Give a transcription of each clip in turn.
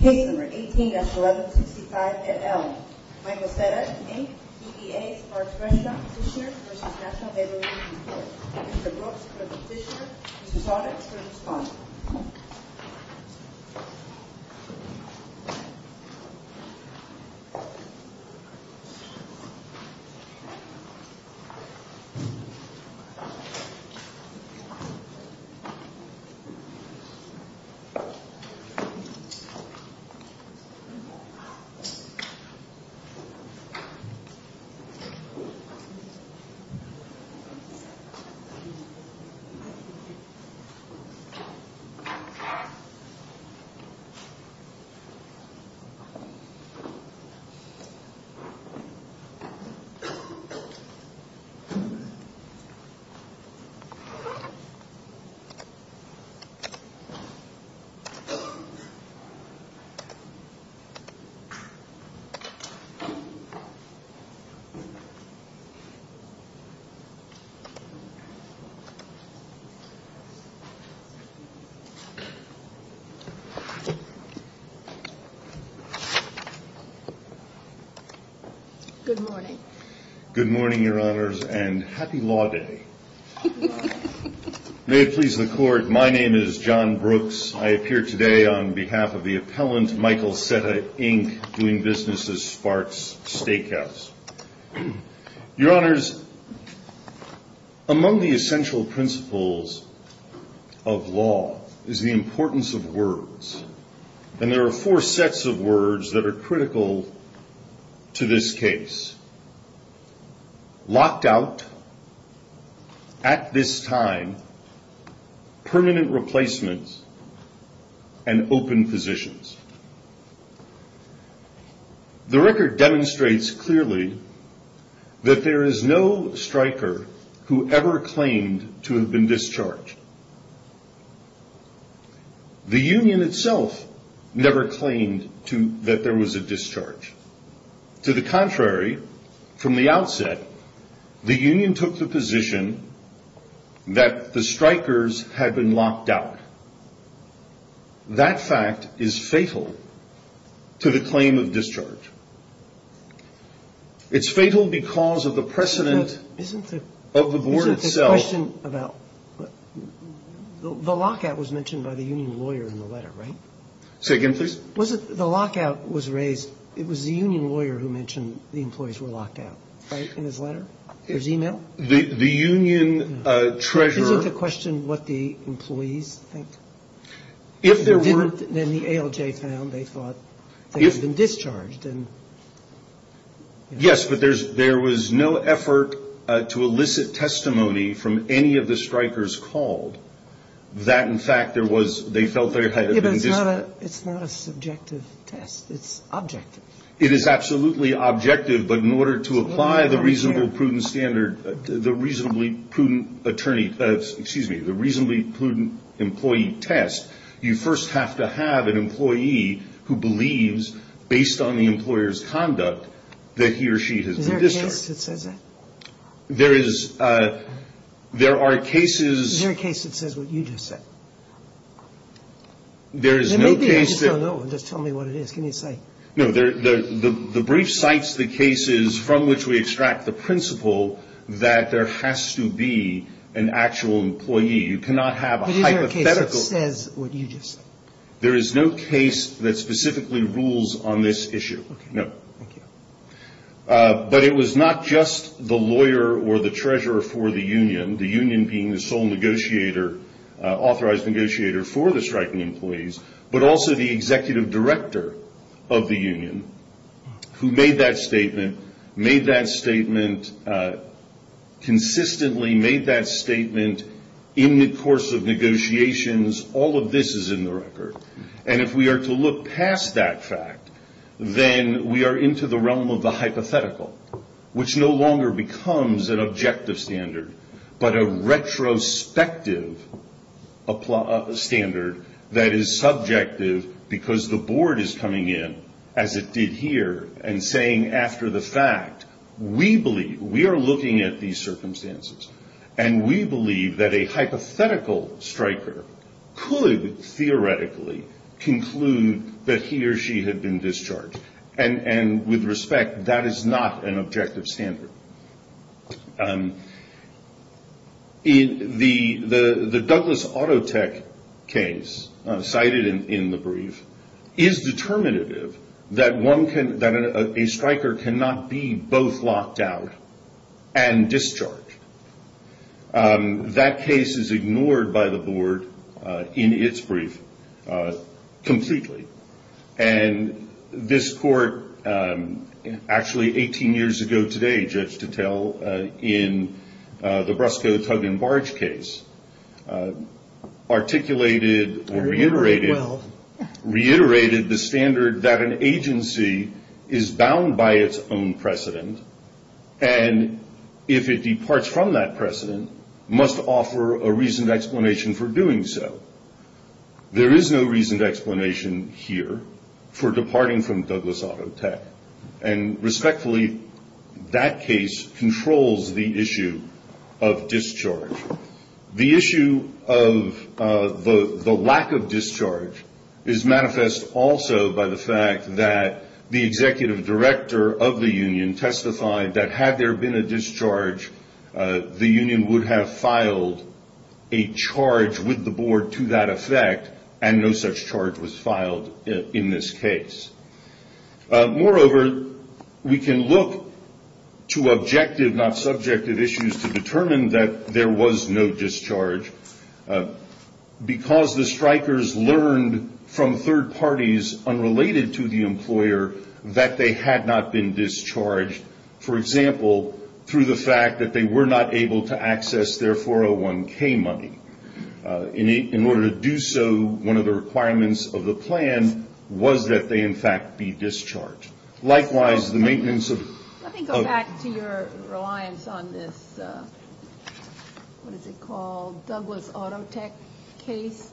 Case No. 18-1165, et al. Michael Cetta, Inc. DEA Sparks Restaurant Petitioner v. National Labor Union Court Mr. Brooks, Petitioner. Mr. Saunders, for response. Mr. Saunders, for response. Good morning, Your Honors, and happy Law Day. May it please the Court, my name is John Brooks. I appear today on behalf of the appellant, Michael Cetta, Inc., doing business at Sparks Steakhouse. Your Honors, among the essential principles of law is the importance of words, and there are four sets of words that are critical to this case. Locked out, at this time, permanent replacements, and open positions. The record demonstrates clearly that there is no striker who ever claimed to have been discharged. The union itself never claimed that there was a discharge. To the contrary, from the outset, the union took the position that the strikers had been locked out. That fact is fatal to the claim of discharge. It's fatal because of the precedent of the board itself. The lockout was mentioned by the union lawyer in the letter, right? Say again, please. The lockout was raised, it was the union lawyer who mentioned the employees were locked out, right, in his letter? His email? The union treasurer. Isn't the question what the employees think? If there weren't, then the ALJ found they thought they had been discharged. Yes, but there was no effort to elicit testimony from any of the strikers called that, in fact, there was, they felt they had been discharged. It's not a subjective test, it's objective. It is absolutely objective, but in order to apply the reasonably prudent standard, the reasonably prudent attorney, excuse me, the reasonably prudent employee test, you first have to have an employee who believes, based on the employer's conduct, that he or she has been discharged. Is there a case that says that? There is. There are cases. Is there a case that says what you just said? There is no case that... Maybe I just don't know, just tell me what it is, can you say? No, the brief cites the cases from which we extract the principle that there has to be an actual employee. You cannot have a hypothetical... But is there a case that says what you just said? There is no case that specifically rules on this issue. No. But it was not just the lawyer or the treasurer for the union, the union being the sole authorised negotiator for the striking employees, but also the executive director of the union who made that statement, consistently made that statement in the course of negotiations, all of this is in the record. And if we are to look past that fact, then we are into the realm of the hypothetical, which no longer becomes an objective standard, but a retrospective standard that is subjective because the board is coming in, as it did here, and saying after the fact, we believe, we are looking at these circumstances, and we believe that a hypothetical striker could theoretically conclude that he or she had been discharged. And with respect, that is not an objective standard. In the Douglas Autotech case, cited in the brief, is determinative that a striker cannot be both locked out and discharged. That case is ignored by the board in its brief completely. And this court, actually 18 years ago today, Judge Tuttle, in the Brusco, Tug and Barge case, articulated or reiterated the standard that an agency is bound by its own precedent, and if it departs from that precedent, must offer a reasoned explanation for doing so. There is no reasoned explanation here for departing from Douglas Autotech. And respectfully, that case controls the issue of discharge. The issue of the lack of discharge is manifest also by the fact that the executive director of the union testified that had there been a discharge, the union would have filed a charge with the board to that effect, and no such charge was filed in this case. Moreover, we can look to objective, not subjective issues, to determine that there was no discharge, because the strikers learned from third parties unrelated to the employer that they had not been discharged, for example, through the fact that they were not able to access their 401k money. In order to do so, one of the requirements of the plan was that they, in fact, be discharged. Likewise, the maintenance of- Let me go back to your reliance on this, what is it called, Douglas Autotech case.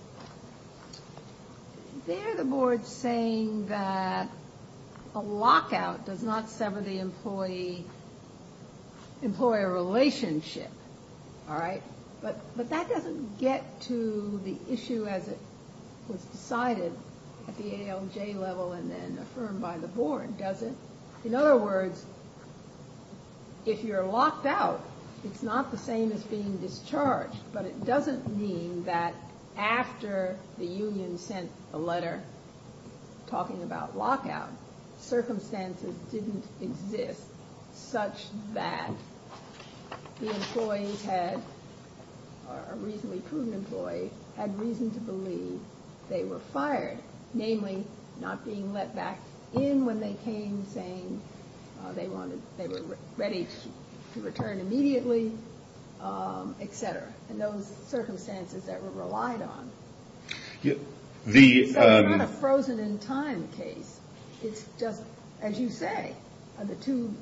There, the board's saying that a lockout does not sever the employee- employer relationship, all right? But that doesn't get to the issue as it was decided at the ALJ level and then affirmed by the board, does it? In other words, if you're locked out, it's not the same as being discharged, but it doesn't mean that after the union sent a letter talking about lockout, circumstances didn't exist such that the employee had- or a reasonably prudent employee had reason to believe they were fired, namely, not being let back in when they came, saying they wanted- they were ready to return immediately, et cetera, and those circumstances that were relied on. It's not a frozen in time case. It's just, as you say, the two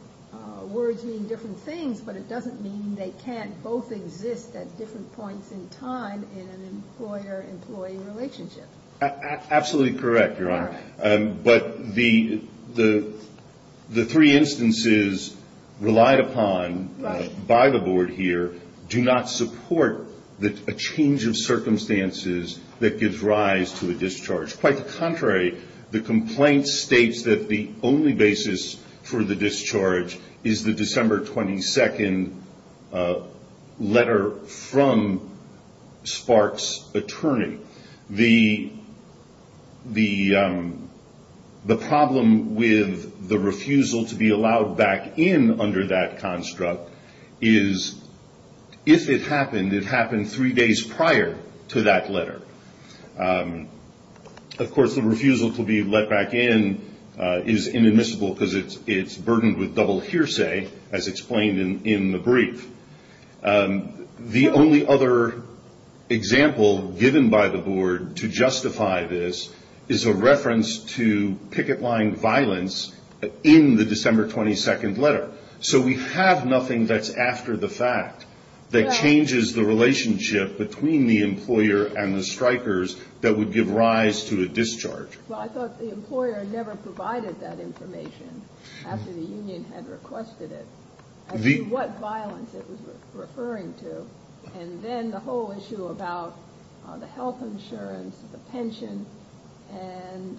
words mean different things, but it doesn't mean they can't both exist at different points in time in an employer-employee relationship. Absolutely correct, Your Honor. But the three instances relied upon by the board here do not support a change of circumstances that gives rise to a discharge. Quite the contrary, the complaint states that the only basis for the discharge is the December 22nd letter from Spark's attorney. The problem with the refusal to be allowed back in under that construct is if it happened, it happened three days prior to that letter. Of course, the refusal to be let back in is inadmissible because it's burdened with double hearsay, as explained in the brief. The only other example given by the board to justify this is a reference to picket line violence in the December 22nd letter. So we have nothing that's after the fact that changes the relationship between the employer and the strikers that would give rise to a discharge. Well, I thought the employer never provided that information after the union had requested it. What violence it was referring to, and then the whole issue about the health insurance, the pension, and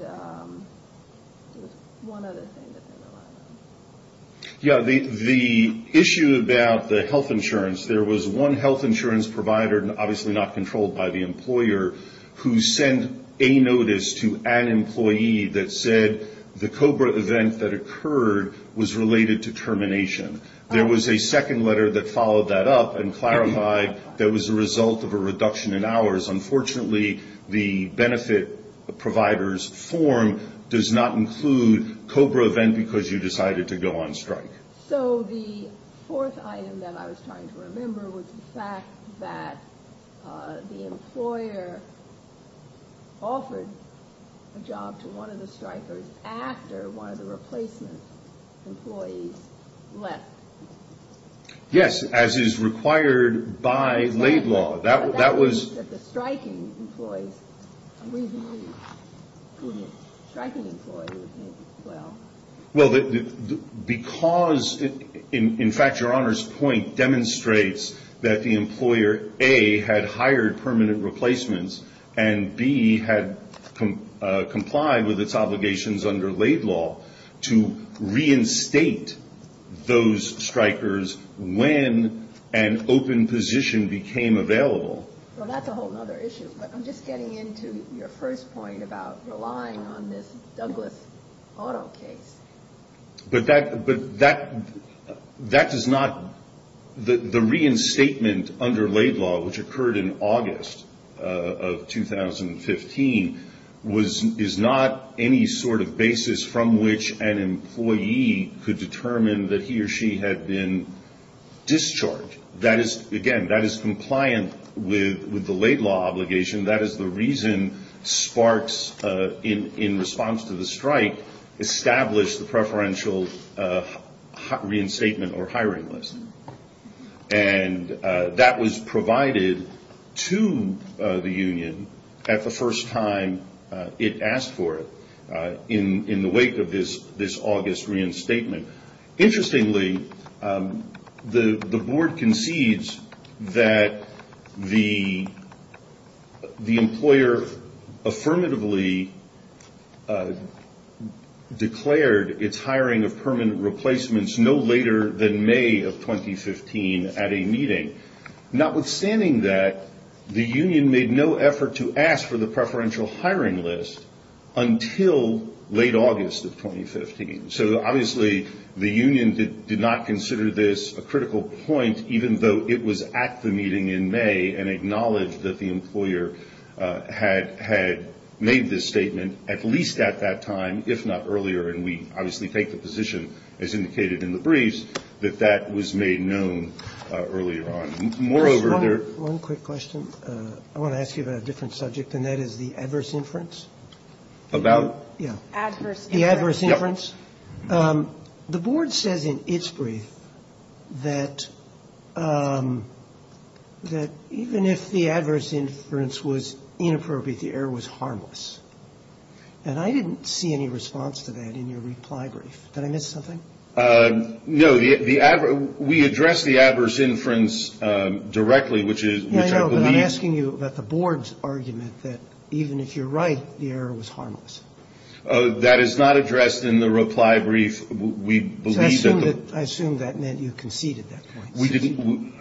one other thing that they relied on. Yeah, the issue about the health insurance, there was one health insurance provider, obviously not controlled by the employer, who sent a notice to an employee that said the COBRA event that occurred was related to termination. There was a second letter that followed that up and clarified that was a result of a reduction in hours. Unfortunately, the benefit provider's form does not include COBRA event because you decided to go on strike. So the fourth item that I was trying to remember was the fact that the employer offered a job to one of the strikers after one of the replacement employees left. Yes, as is required by laid law. But that means that the striking employee, a reasonably striking employee, would make it as well. Well, because, in fact, Your Honor's point demonstrates that the employer, A, had hired permanent replacements, and B, had complied with its obligations under laid law to reinstate those strikers when an open position became available. Well, that's a whole other issue. But I'm just getting into your first point about relying on this Douglas Auto case. But that does not, the reinstatement under laid law, which occurred in August of 2015, was, is not any sort of basis from which an employee could determine that he or she had been discharged. That is, again, that is compliant with the laid law obligation. That is the reason SPARKS, in response to the strike, established the preferential reinstatement or hiring list. And that was provided to the union at the first time it asked for it in the wake of this August reinstatement. Interestingly, the board concedes that the employer affirmatively declared its hiring of permanent replacements no later than May of 2015 at a meeting. Notwithstanding that, the union made no effort to ask for the preferential hiring list until late August of 2015. So obviously, the union did not consider this a critical point, even though it was at the meeting in May and acknowledged that the employer had made this statement at least at that time, if not earlier. And we obviously take the position, as indicated in the briefs, that that was made known earlier on. Moreover, there... One quick question. I want to ask you about a different subject, and that is the adverse inference. About? Yeah. Adverse inference. The adverse inference. that even if the adverse inference was inappropriate, the error was harmless. And I didn't see any response to that in your reply brief. Did I miss something? No. We addressed the adverse inference directly, which is... Yeah, I know, but I'm asking you about the board's argument that even if you're right, the error was harmless. That is not addressed in the reply brief. I assume that meant you conceded that point. We didn't.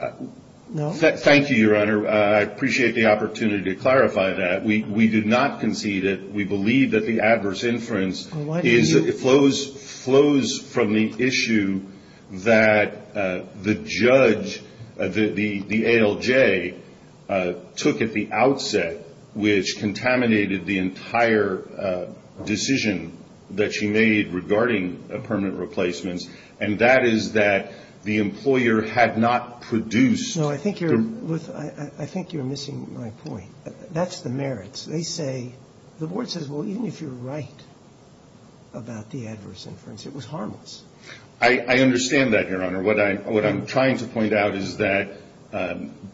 Thank you, Your Honor. I appreciate the opportunity to clarify that. We did not concede it. We believe that the adverse inference flows from the issue that the judge, the ALJ, took at the outset, which contaminated the entire decision that she made regarding permanent replacements. And that is that the employer had not produced... No, I think you're missing my point. That's the merits. They say, the board says, well, even if you're right about the adverse inference, it was harmless. I understand that, Your Honor. What I'm trying to point out is that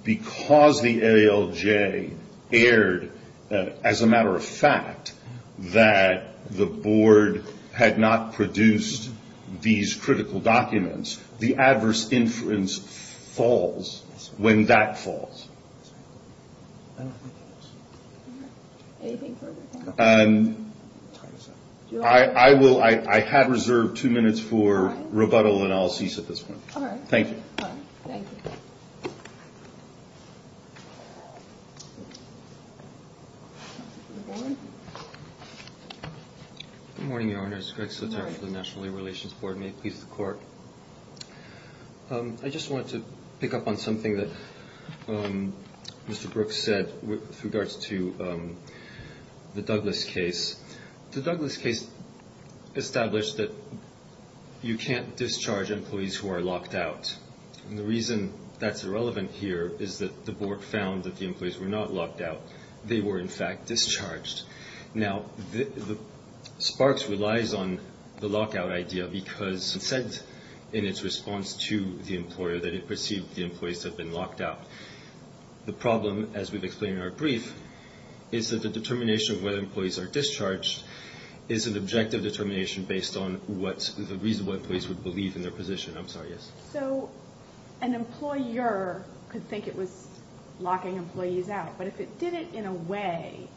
because the ALJ erred, as a matter of fact, that the board had not produced these critical documents, the adverse inference falls when that falls. All right. Anything further? And I will... I had reserved two minutes for rebuttal, and I'll cease at this point. All right. Thank you. All right. Thank you. Good morning, Your Honors. Greg Sotaro for the National Labor Relations Board. May it please the Court. I just wanted to pick up on something that Mr. Brooks said. With regards to the Douglas case. The Douglas case established that you can't discharge employees who are locked out. And the reason that's irrelevant here is that the board found that the employees were not locked out. They were, in fact, discharged. Now, SPARKS relies on the lockout idea because it said in its response to the employer that it perceived the employees had been locked out. The problem, as we've explained in our brief, is that the determination of whether employees are discharged is an objective determination based on what the reasonable employees would believe in their position. I'm sorry, yes? So an employer could think it was locking employees out. But if it did it in a way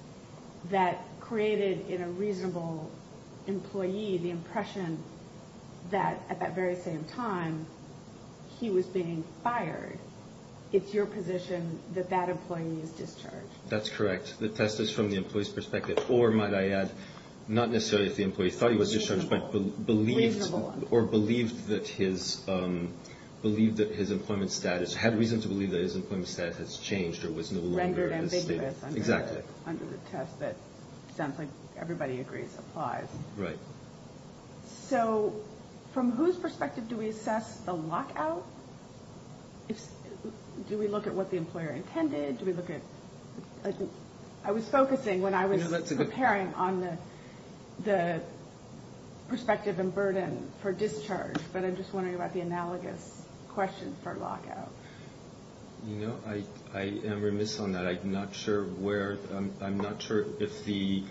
that created in a reasonable employee the impression that at that very same time he was being fired, it's your position that that employee is discharged? That's correct. The test is from the employee's perspective. Or, might I add, not necessarily if the employee thought he was discharged, but believed or believed that his employment status, had reason to believe that his employment status has changed or was no longer as stable. Exactly. Under the test that sounds like everybody agrees applies. Right. So from whose perspective do we assess the lockout? Do we look at what the employer intended? Do we look at... I was focusing when I was preparing on the perspective and burden for discharge, but I'm just wondering about the analogous question for lockout. You know, I am remiss on that. I'm not sure if the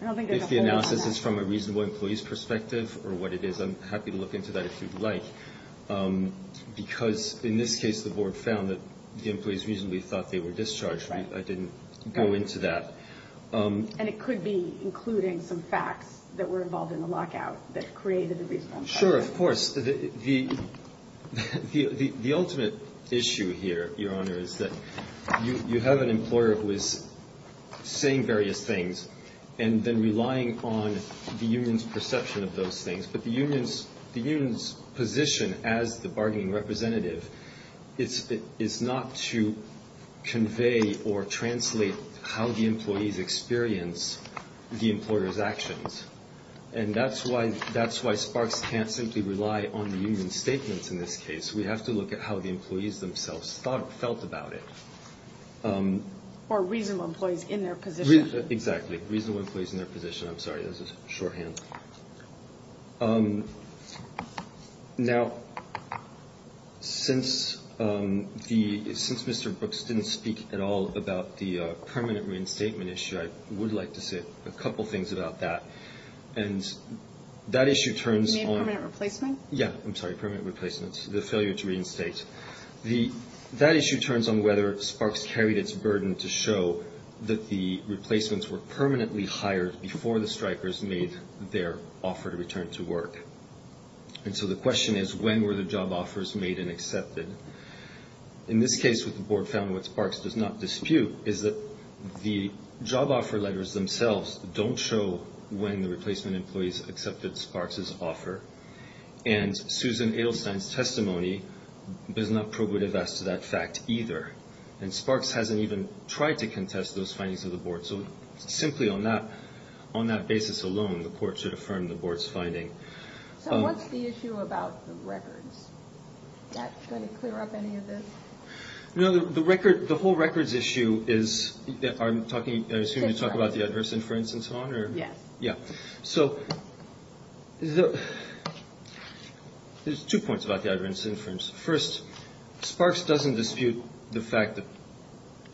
analysis is from a reasonable employee's perspective or what it is. I'm happy to look into that if you'd like. Because in this case, the board found that the employees reasonably thought they were discharged. I didn't go into that. And it could be including some facts that were involved in the lockout that created the reasonable... Sure, of course. The ultimate issue here, Your Honor, is that you have an employer who is saying various things and then relying on the union's perception of those things. But the union's position as the bargaining representative is not to convey or translate how the employees experience the employer's actions. And that's why Sparks can't simply rely on the union's statements in this case. We have to look at how the employees themselves felt about it. Or reasonable employees in their position. Exactly. Reasonable employees in their position. I'm sorry, that was a shorthand. Now, since Mr. Brooks didn't speak at all about the permanent reinstatement issue, I would like to say a couple things about that. And that issue turns on... You mean permanent replacement? Yeah. I'm sorry, permanent replacement. The failure to reinstate. That issue turns on whether Sparks carried its burden to show that the replacements were permanently hired before the Strikers made their offer to return to work. And so the question is, when were the job offers made and accepted? In this case, what the board found, what Sparks does not dispute, is that the job offer letters themselves don't show when the replacement employees accepted Sparks' offer. And Susan Edelstein's testimony does not probative as to that fact either. And Sparks hasn't even tried to contest those findings of the board. So simply on that basis alone, the court should affirm the board's finding. So what's the issue about the records? That's going to clear up any of this? No, the whole records issue is... I'm assuming you're talking about the adverse inference and so on? Yes. Yeah. So there's two points about the adverse inference. First, Sparks doesn't dispute the fact that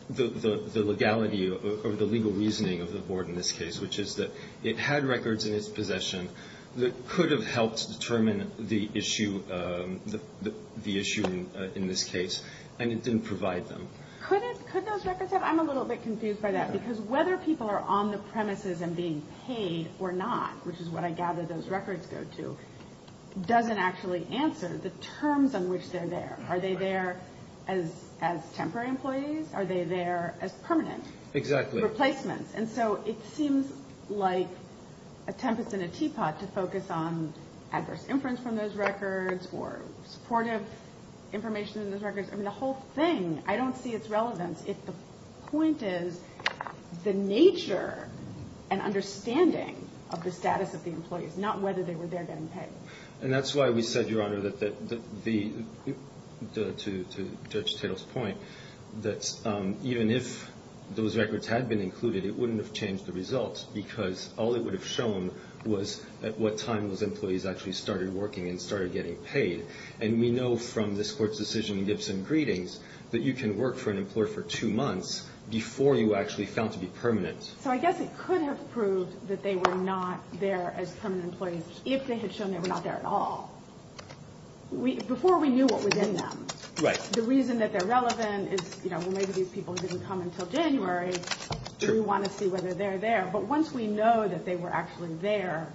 the legality or the legal reasoning of the board in this case, which is that it had records in its possession that could have helped determine the issue in this case, and it didn't provide them. Could those records have? I'm a little bit confused by that. Because whether people are on the premises and being paid or not, which is what I gather those records go to, doesn't actually answer the terms on which they're there. Are they there as temporary employees? Are they there as permanent replacements? And so it seems like a tempest in a teapot to focus on adverse inference from those records or supportive information in those records. I mean, the whole thing. I don't see its relevance if the point is the nature and understanding of the status of the employees, not whether they were there getting paid. And that's why we said, Your Honor, that the... Mr. Tittle's point, that even if those records had been included, it wouldn't have changed the results because all it would have shown was at what time those employees actually started working and started getting paid. And we know from this court's decision in Gibson Greetings that you can work for an employer for two months before you actually found to be permanent. So I guess it could have proved that they were not there as permanent employees if they had shown they were not there at all. Before we knew what was in them. Right. The reason that they're relevant is, you know, well, maybe these people didn't come until January. True. We want to see whether they're there. But once we know that they were actually there,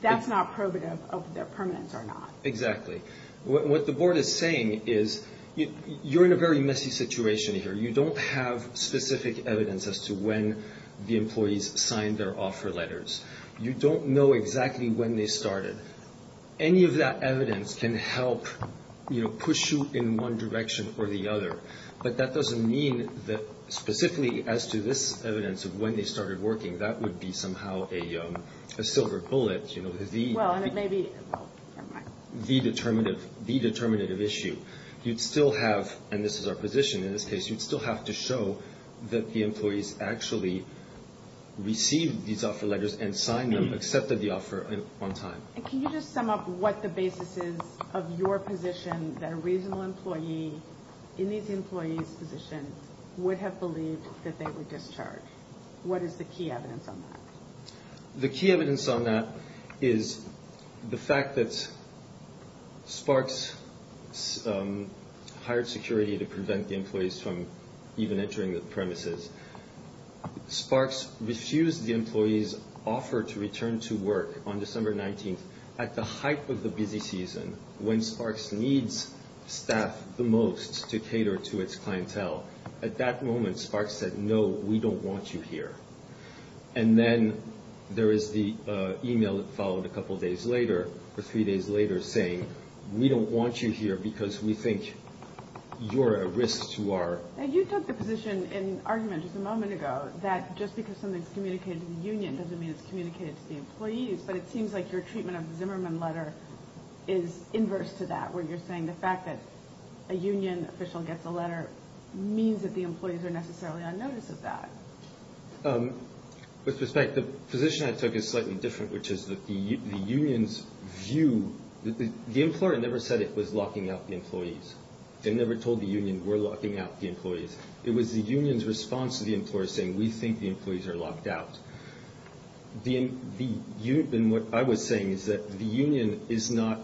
that's not probative of their permanence or not. Exactly. What the board is saying is you're in a very messy situation here. You don't have specific evidence as to when the employees signed their offer letters. You don't know exactly when they started. Any of that evidence can help, you know, push you in one direction or the other. But that doesn't mean that specifically as to this evidence of when they started working, that would be somehow a silver bullet. You know, the. Well, and it may be. The determinative, the determinative issue. You'd still have. And this is our position in this case. You'd still have to show that the employees actually received these offer letters and signed them, accepted the offer on time. Can you just sum up what the basis is of your position that a reasonable employee in these employees position would have believed that they would discharge? What is the key evidence on that? The key evidence on that is the fact that. Sparks hired security to prevent the employees from even entering the premises. Sparks refused the employees offer to return to work on December 19th at the height of the busy season when Sparks needs staff the most to cater to its clientele. At that moment, Sparks said, no, we don't want you here. And then there is the email that followed a couple of days later or three days later saying, we don't want you here because we think you're a risk to our. And you took the position in argument just a moment ago that just because something's communicated to the union doesn't mean it's communicated to the employees. But it seems like your treatment of Zimmerman letter is inverse to that, where you're saying the fact that a union official gets a letter means that the employees are necessarily on notice of that. With respect, the position I took is slightly different, which is that the union's view, the employer never said it was locking up the employees. They never told the union we're locking up the employees. It was the union's response to the employer saying we think the employees are locked out. And what I was saying is that the union is not,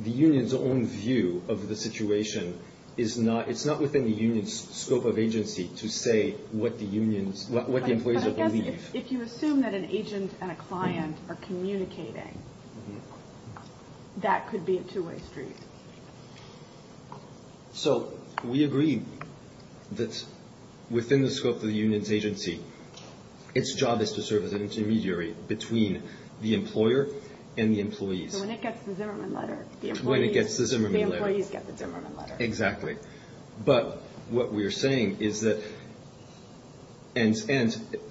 the union's own view of the situation is not, it's not within the union's scope of agency to say what the unions, what the employees believe. If you assume that an agent and a client are communicating, that could be a two-way street. So we agree that within the scope of the union's agency, its job is to serve as an intermediary between the employer and the employees. So when it gets the Zimmerman letter, the employees get the Zimmerman letter. Exactly. But what we're saying is that, and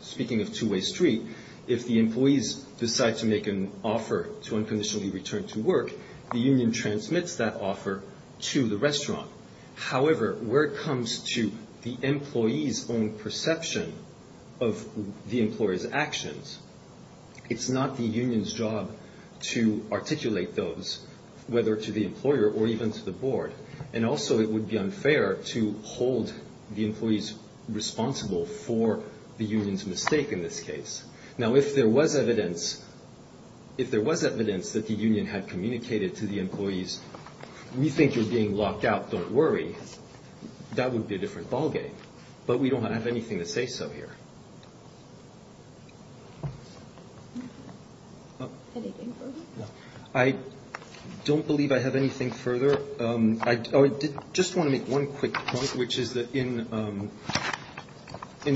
speaking of two-way street, if the employees decide to make an offer to unconditionally return to work, the union transmits that offer to the restaurant. However, where it comes to the employee's own perception of the employer's actions, it's not the union's job to articulate those, whether to the employer or even to the board. And also, it would be unfair to hold the employees responsible for the union's mistake in this case. Now, if there was evidence, if there was evidence that the union had communicated to the employee, locked out, don't worry, that would be a different ballgame. But we don't have anything to say so here. I don't believe I have anything further. I just want to make one quick point, which is that in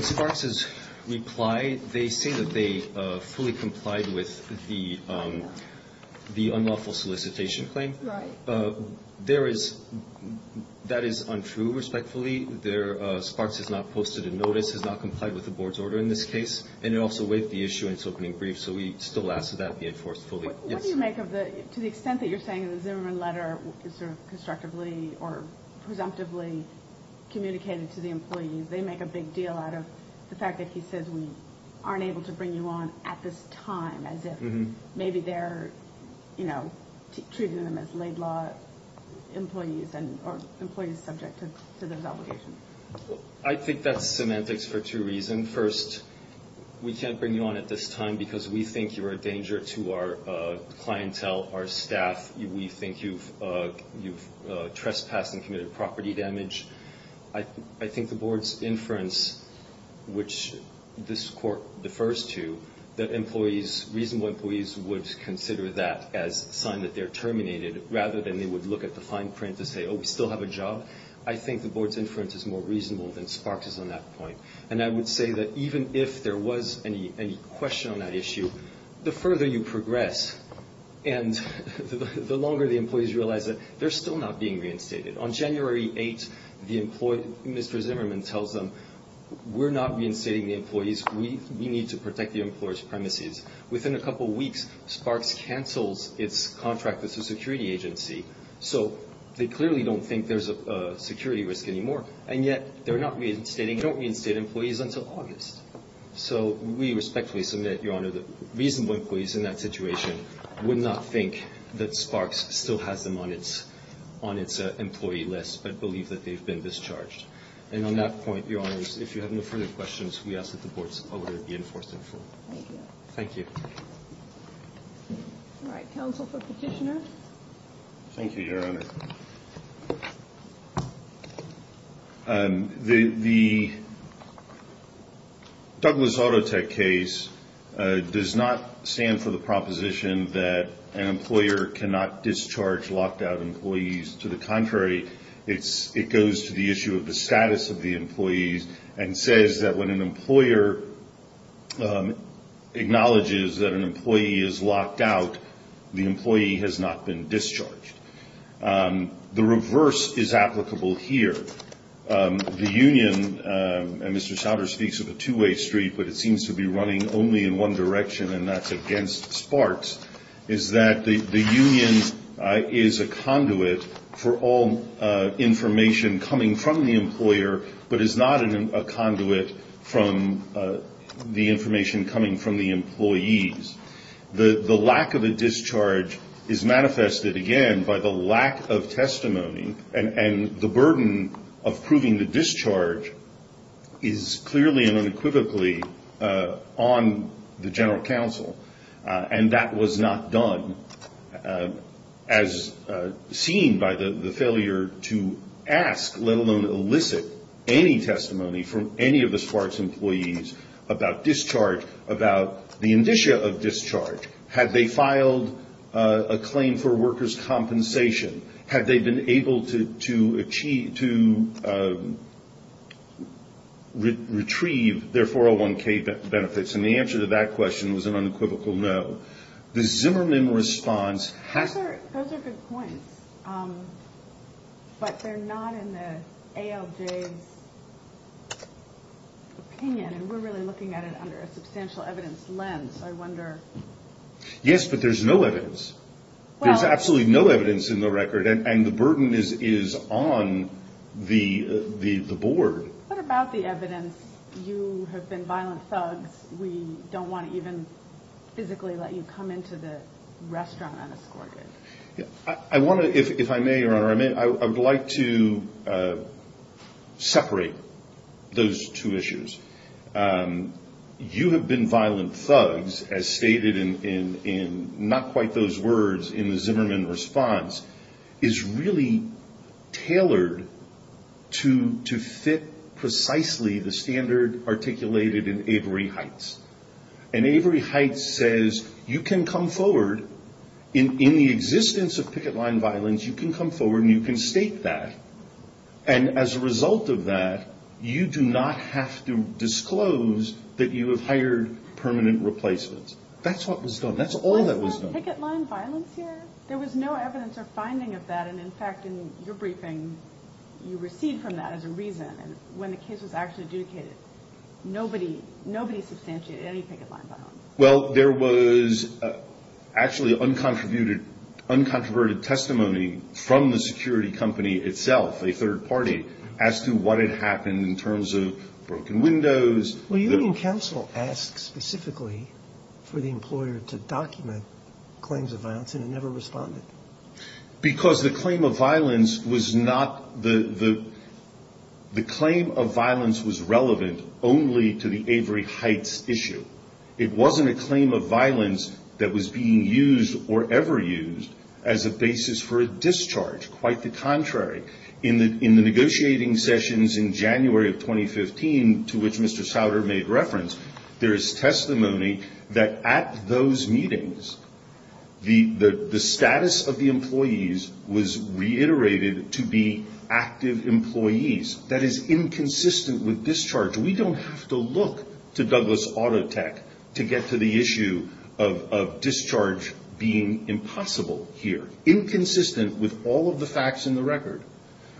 Sparks' reply, they say that they fully complied with the unlawful solicitation claim. Right. There is, that is untrue, respectfully. There, Sparks has not posted a notice, has not complied with the board's order in this case. And it also waived the issuance opening brief. So we still ask that that be enforced fully. What do you make of the, to the extent that you're saying in the Zimmerman letter, sort of constructively or presumptively communicated to the employees, they make a big deal out of the fact that he says, we aren't able to bring you on at this time, as if maybe they're, you know, treating them as laid law employees and, or employees subject to those obligations. I think that's semantics for two reasons. First, we can't bring you on at this time because we think you're a danger to our clientele, our staff. We think you've, you've trespassed and committed property damage. I, I think the board's inference, which this court defers to, that employees, reasonable employees would consider that as a sign that they're terminated rather than they would look at the fine print to say, oh, we still have a job. I think the board's inference is more reasonable than Sparks' on that point. And I would say that even if there was any, any question on that issue, the further you progress and the longer the employees realize that they're still not being reinstated. On January 8th, the employee, Mr. Zimmerman tells them, we're not reinstating the employees. We, we need to protect the employer's premises. Within a couple of weeks, Sparks cancels its contract as a security agency. So they clearly don't think there's a security risk anymore. And yet they're not reinstating, don't reinstate employees until August. So we respectfully submit, Your Honor, that reasonable employees in that situation would not think that Sparks still has them on its, on its employee list, but believe that they've been discharged. And on that point, Your Honors, if you have no further questions, we ask that the board's order be enforced in full. Thank you. All right. Counsel for petitioner. Thank you, Your Honor. The, the Douglas Auto Tech case does not stand for the proposition that an employer cannot discharge locked out employees. To the contrary, it's, it goes to the issue of the status of the employees and says that when an employer acknowledges that an employee is locked out, the employee has not been discharged. The reverse is applicable here. The union, and Mr. Schauder speaks of a two-way street, but it seems to be running only in one direction, and that's against Sparks, is that the, the union is a conduit for all information coming from the employer, but is not a conduit from the information coming from the employees. The, the lack of a discharge is manifested, again, by the lack of testimony, and, and the burden of proving the discharge is clearly and unequivocally on the general counsel. And that was not done as seen by the, the failure to ask, let alone elicit any testimony from any of the Sparks employees about discharge, about the indicia of discharge. Had they filed a claim for workers' compensation? Had they been able to, to achieve, to retrieve their 401k benefits? And the answer to that question was an unequivocal no. The Zimmerman response has- Those are, those are good points. But they're not in the ALJ's opinion, and we're really looking at it under a substantial evidence lens, I wonder. Yes, but there's no evidence. There's absolutely no evidence in the record, and, and the burden is, is on the, the, the board. What about the evidence? You have been violent thugs. We don't want to even physically let you come into the restaurant unescorted. I want to, if, if I may, Your Honor, I mean, I would like to separate those two issues. Um, you have been violent thugs, as stated in, in, in, not quite those words in the Zimmerman response, is really tailored to, to fit precisely the standard articulated in Avery Heights. And Avery Heights says, you can come forward in, in the existence of picket line violence, you can come forward and you can state that. And as a result of that, you do not have to disclose that you have hired permanent replacements. That's what was done. That's all that was done. Was there picket line violence here? There was no evidence or finding of that, and in fact, in your briefing, you received from that as a reason, and when the case was actually adjudicated, nobody, nobody substantiated any picket line violence. Well, there was actually uncontributed, uncontroverted testimony from the security company itself, a third party, as to what had happened in terms of broken windows. Well, union council asked specifically for the employer to document claims of violence and it never responded. Because the claim of violence was not the, the, the claim of violence was relevant only to the Avery Heights issue. It wasn't a claim of violence that was being used or ever used as a basis for a discharge. Quite the contrary. In the, in the negotiating sessions in January of 2015, to which Mr. Souter made reference, there is testimony that at those meetings, the, the, the status of the employees was reiterated to be active employees. That is inconsistent with discharge. We don't have to look to Douglas Auto Tech to get to the issue of, of discharge being impossible here. Inconsistent with all of the facts in the record.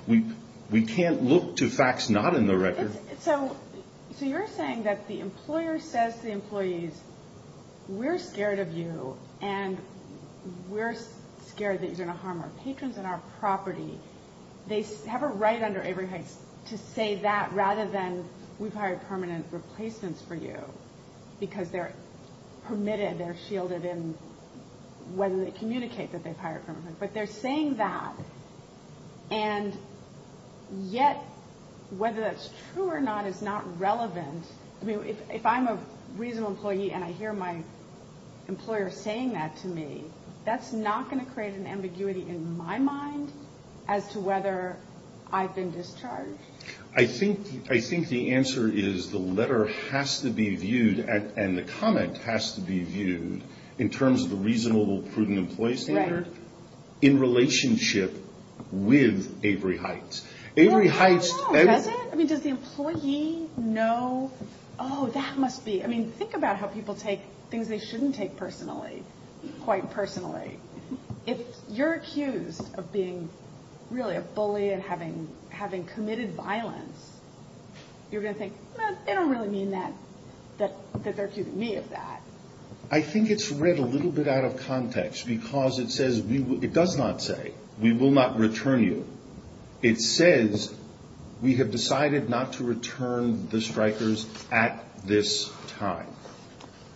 We, we can't look to facts not in the record. So, so you're saying that the employer says to the employees, we're scared of you and we're scared that you're going to harm our patrons and our property. They have a right under Avery Heights to say that rather than we've hired permanent replacements for you because they're permitted, they're shielded in whether they communicate that they've hired permanent. But they're saying that and yet whether that's true or not is not relevant. I mean, if I'm a reasonable employee and I hear my employer saying that to me, that's not going to create an ambiguity in my mind as to whether I've been discharged. I think, I think the answer is the letter has to be viewed and the comment has to be in relationship with Avery Heights. Avery Heights, I mean, does the employee know, oh, that must be, I mean, think about how people take things they shouldn't take personally, quite personally. If you're accused of being really a bully and having, having committed violence, you're going to think, they don't really mean that, that, that they're accusing me of that. I think it's read a little bit out of context because it says, it does not say, we will not return you. It says, we have decided not to return the strikers at this time.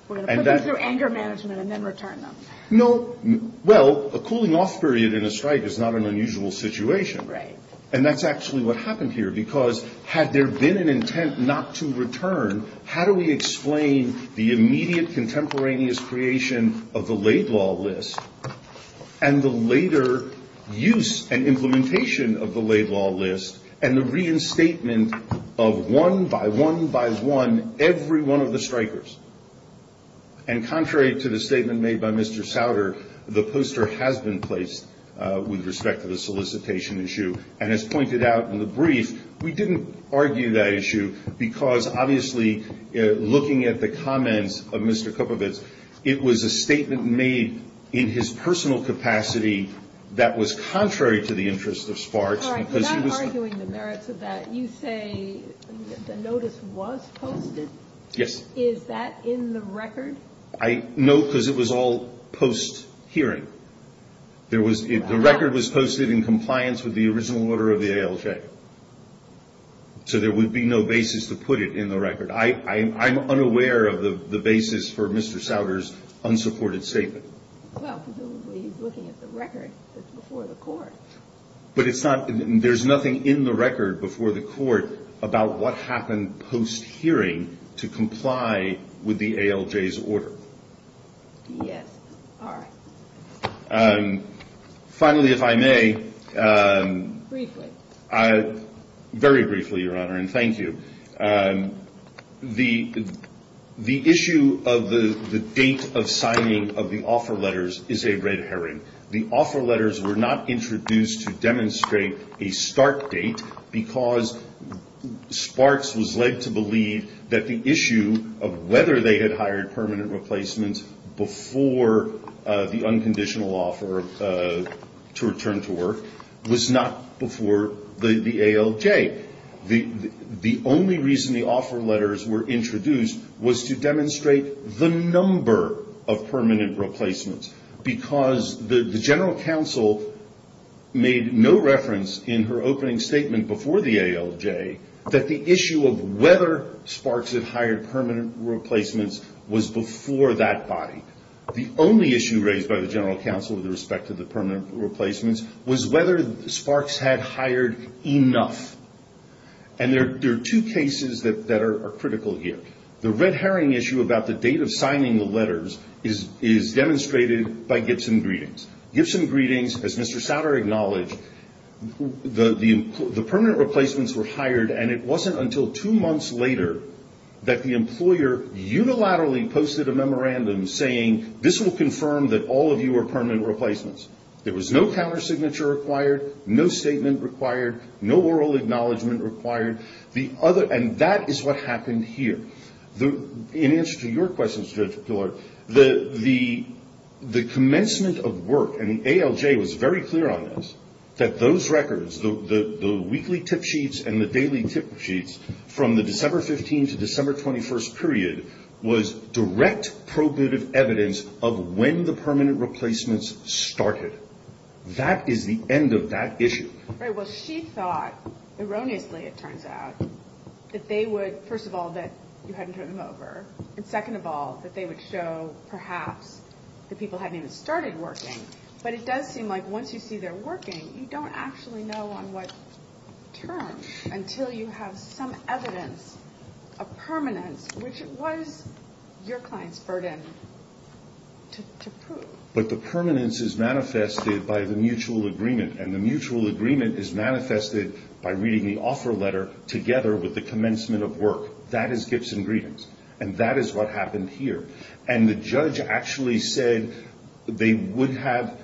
We're going to put them through anger management and then return them. No, well, a cooling off period in a strike is not an unusual situation. Right. And that's actually what happened here because had there been an intent not to return, how do we explain the immediate contemporaneous creation of the laid law list and the later use and implementation of the laid law list and the reinstatement of one by one by one, every one of the strikers. And contrary to the statement made by Mr. Sauter, the poster has been placed with respect to the solicitation issue and as pointed out in the brief, we didn't argue that issue because obviously looking at the comments of Mr. Kupovic, it was a statement made in his personal capacity that was contrary to the interests of SPARKS. All right, you're not arguing the merits of that. You say the notice was posted. Yes. Is that in the record? I, no, because it was all post hearing. There was, the record was posted in compliance with the original order of the ALJ. So there would be no basis to put it in the record. I'm unaware of the basis for Mr. Sauter's unsupported statement. Well, presumably he's looking at the record that's before the court. But it's not, there's nothing in the record before the court about what happened post hearing to comply with the ALJ's order. Yes. All right. Finally, if I may. Briefly. I, very briefly, Your Honor, and thank you. The issue of the date of signing of the offer letters is a red herring. The offer letters were not introduced to demonstrate a start date because SPARKS was led to believe that the issue of whether they had hired permanent replacements before the ALJ. The only reason the offer letters were introduced was to demonstrate the number of permanent replacements because the general counsel made no reference in her opening statement before the ALJ that the issue of whether SPARKS had hired permanent replacements was before that body. The only issue raised by the general counsel with respect to the permanent replacements was whether SPARKS had hired enough. And there are two cases that are critical here. The red herring issue about the date of signing the letters is demonstrated by Gibson Greetings. Gibson Greetings, as Mr. Souter acknowledged, the permanent replacements were hired and it wasn't until two months later that the employer unilaterally posted a memorandum saying, this will confirm that all of you are permanent replacements. There was no counter signature required, no statement required, no oral acknowledgement required. And that is what happened here. In answer to your question, Judge Pillard, the commencement of work, and the ALJ was very clear on this, that those records, the weekly tip sheets and the daily tip sheets from the December 15 to December 21st period was direct probative evidence of when the That is the end of that issue. Right. Well, she thought erroneously, it turns out, that they would, first of all, that you hadn't turned them over. And second of all, that they would show perhaps that people hadn't even started working. But it does seem like once you see they're working, you don't actually know on what term until you have some evidence of permanence, which was your client's burden to prove. But the permanence is manifested by the mutual agreement. And the mutual agreement is manifested by reading the offer letter together with the commencement of work. That is gifts and greetings. And that is what happened here. And the judge actually said they would have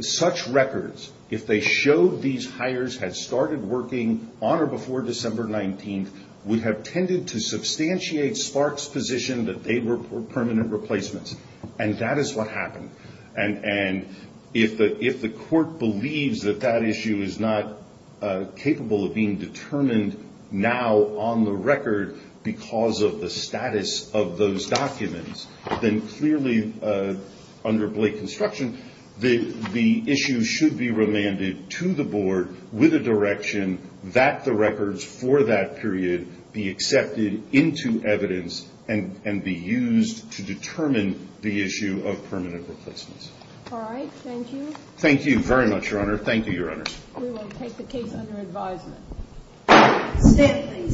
such records, if they showed these hires had started working on or before December 19th, would have tended to substantiate Spark's position that they were permanent replacements. And that is what happened. And if the court believes that that issue is not capable of being determined now on the record because of the status of those documents, then clearly, under Blake construction, the issue should be remanded to the board with a direction that the records for that the issue of permanent replacements. All right. Thank you. Thank you very much, Your Honor. Thank you, Your Honors. We will take the case under advisement.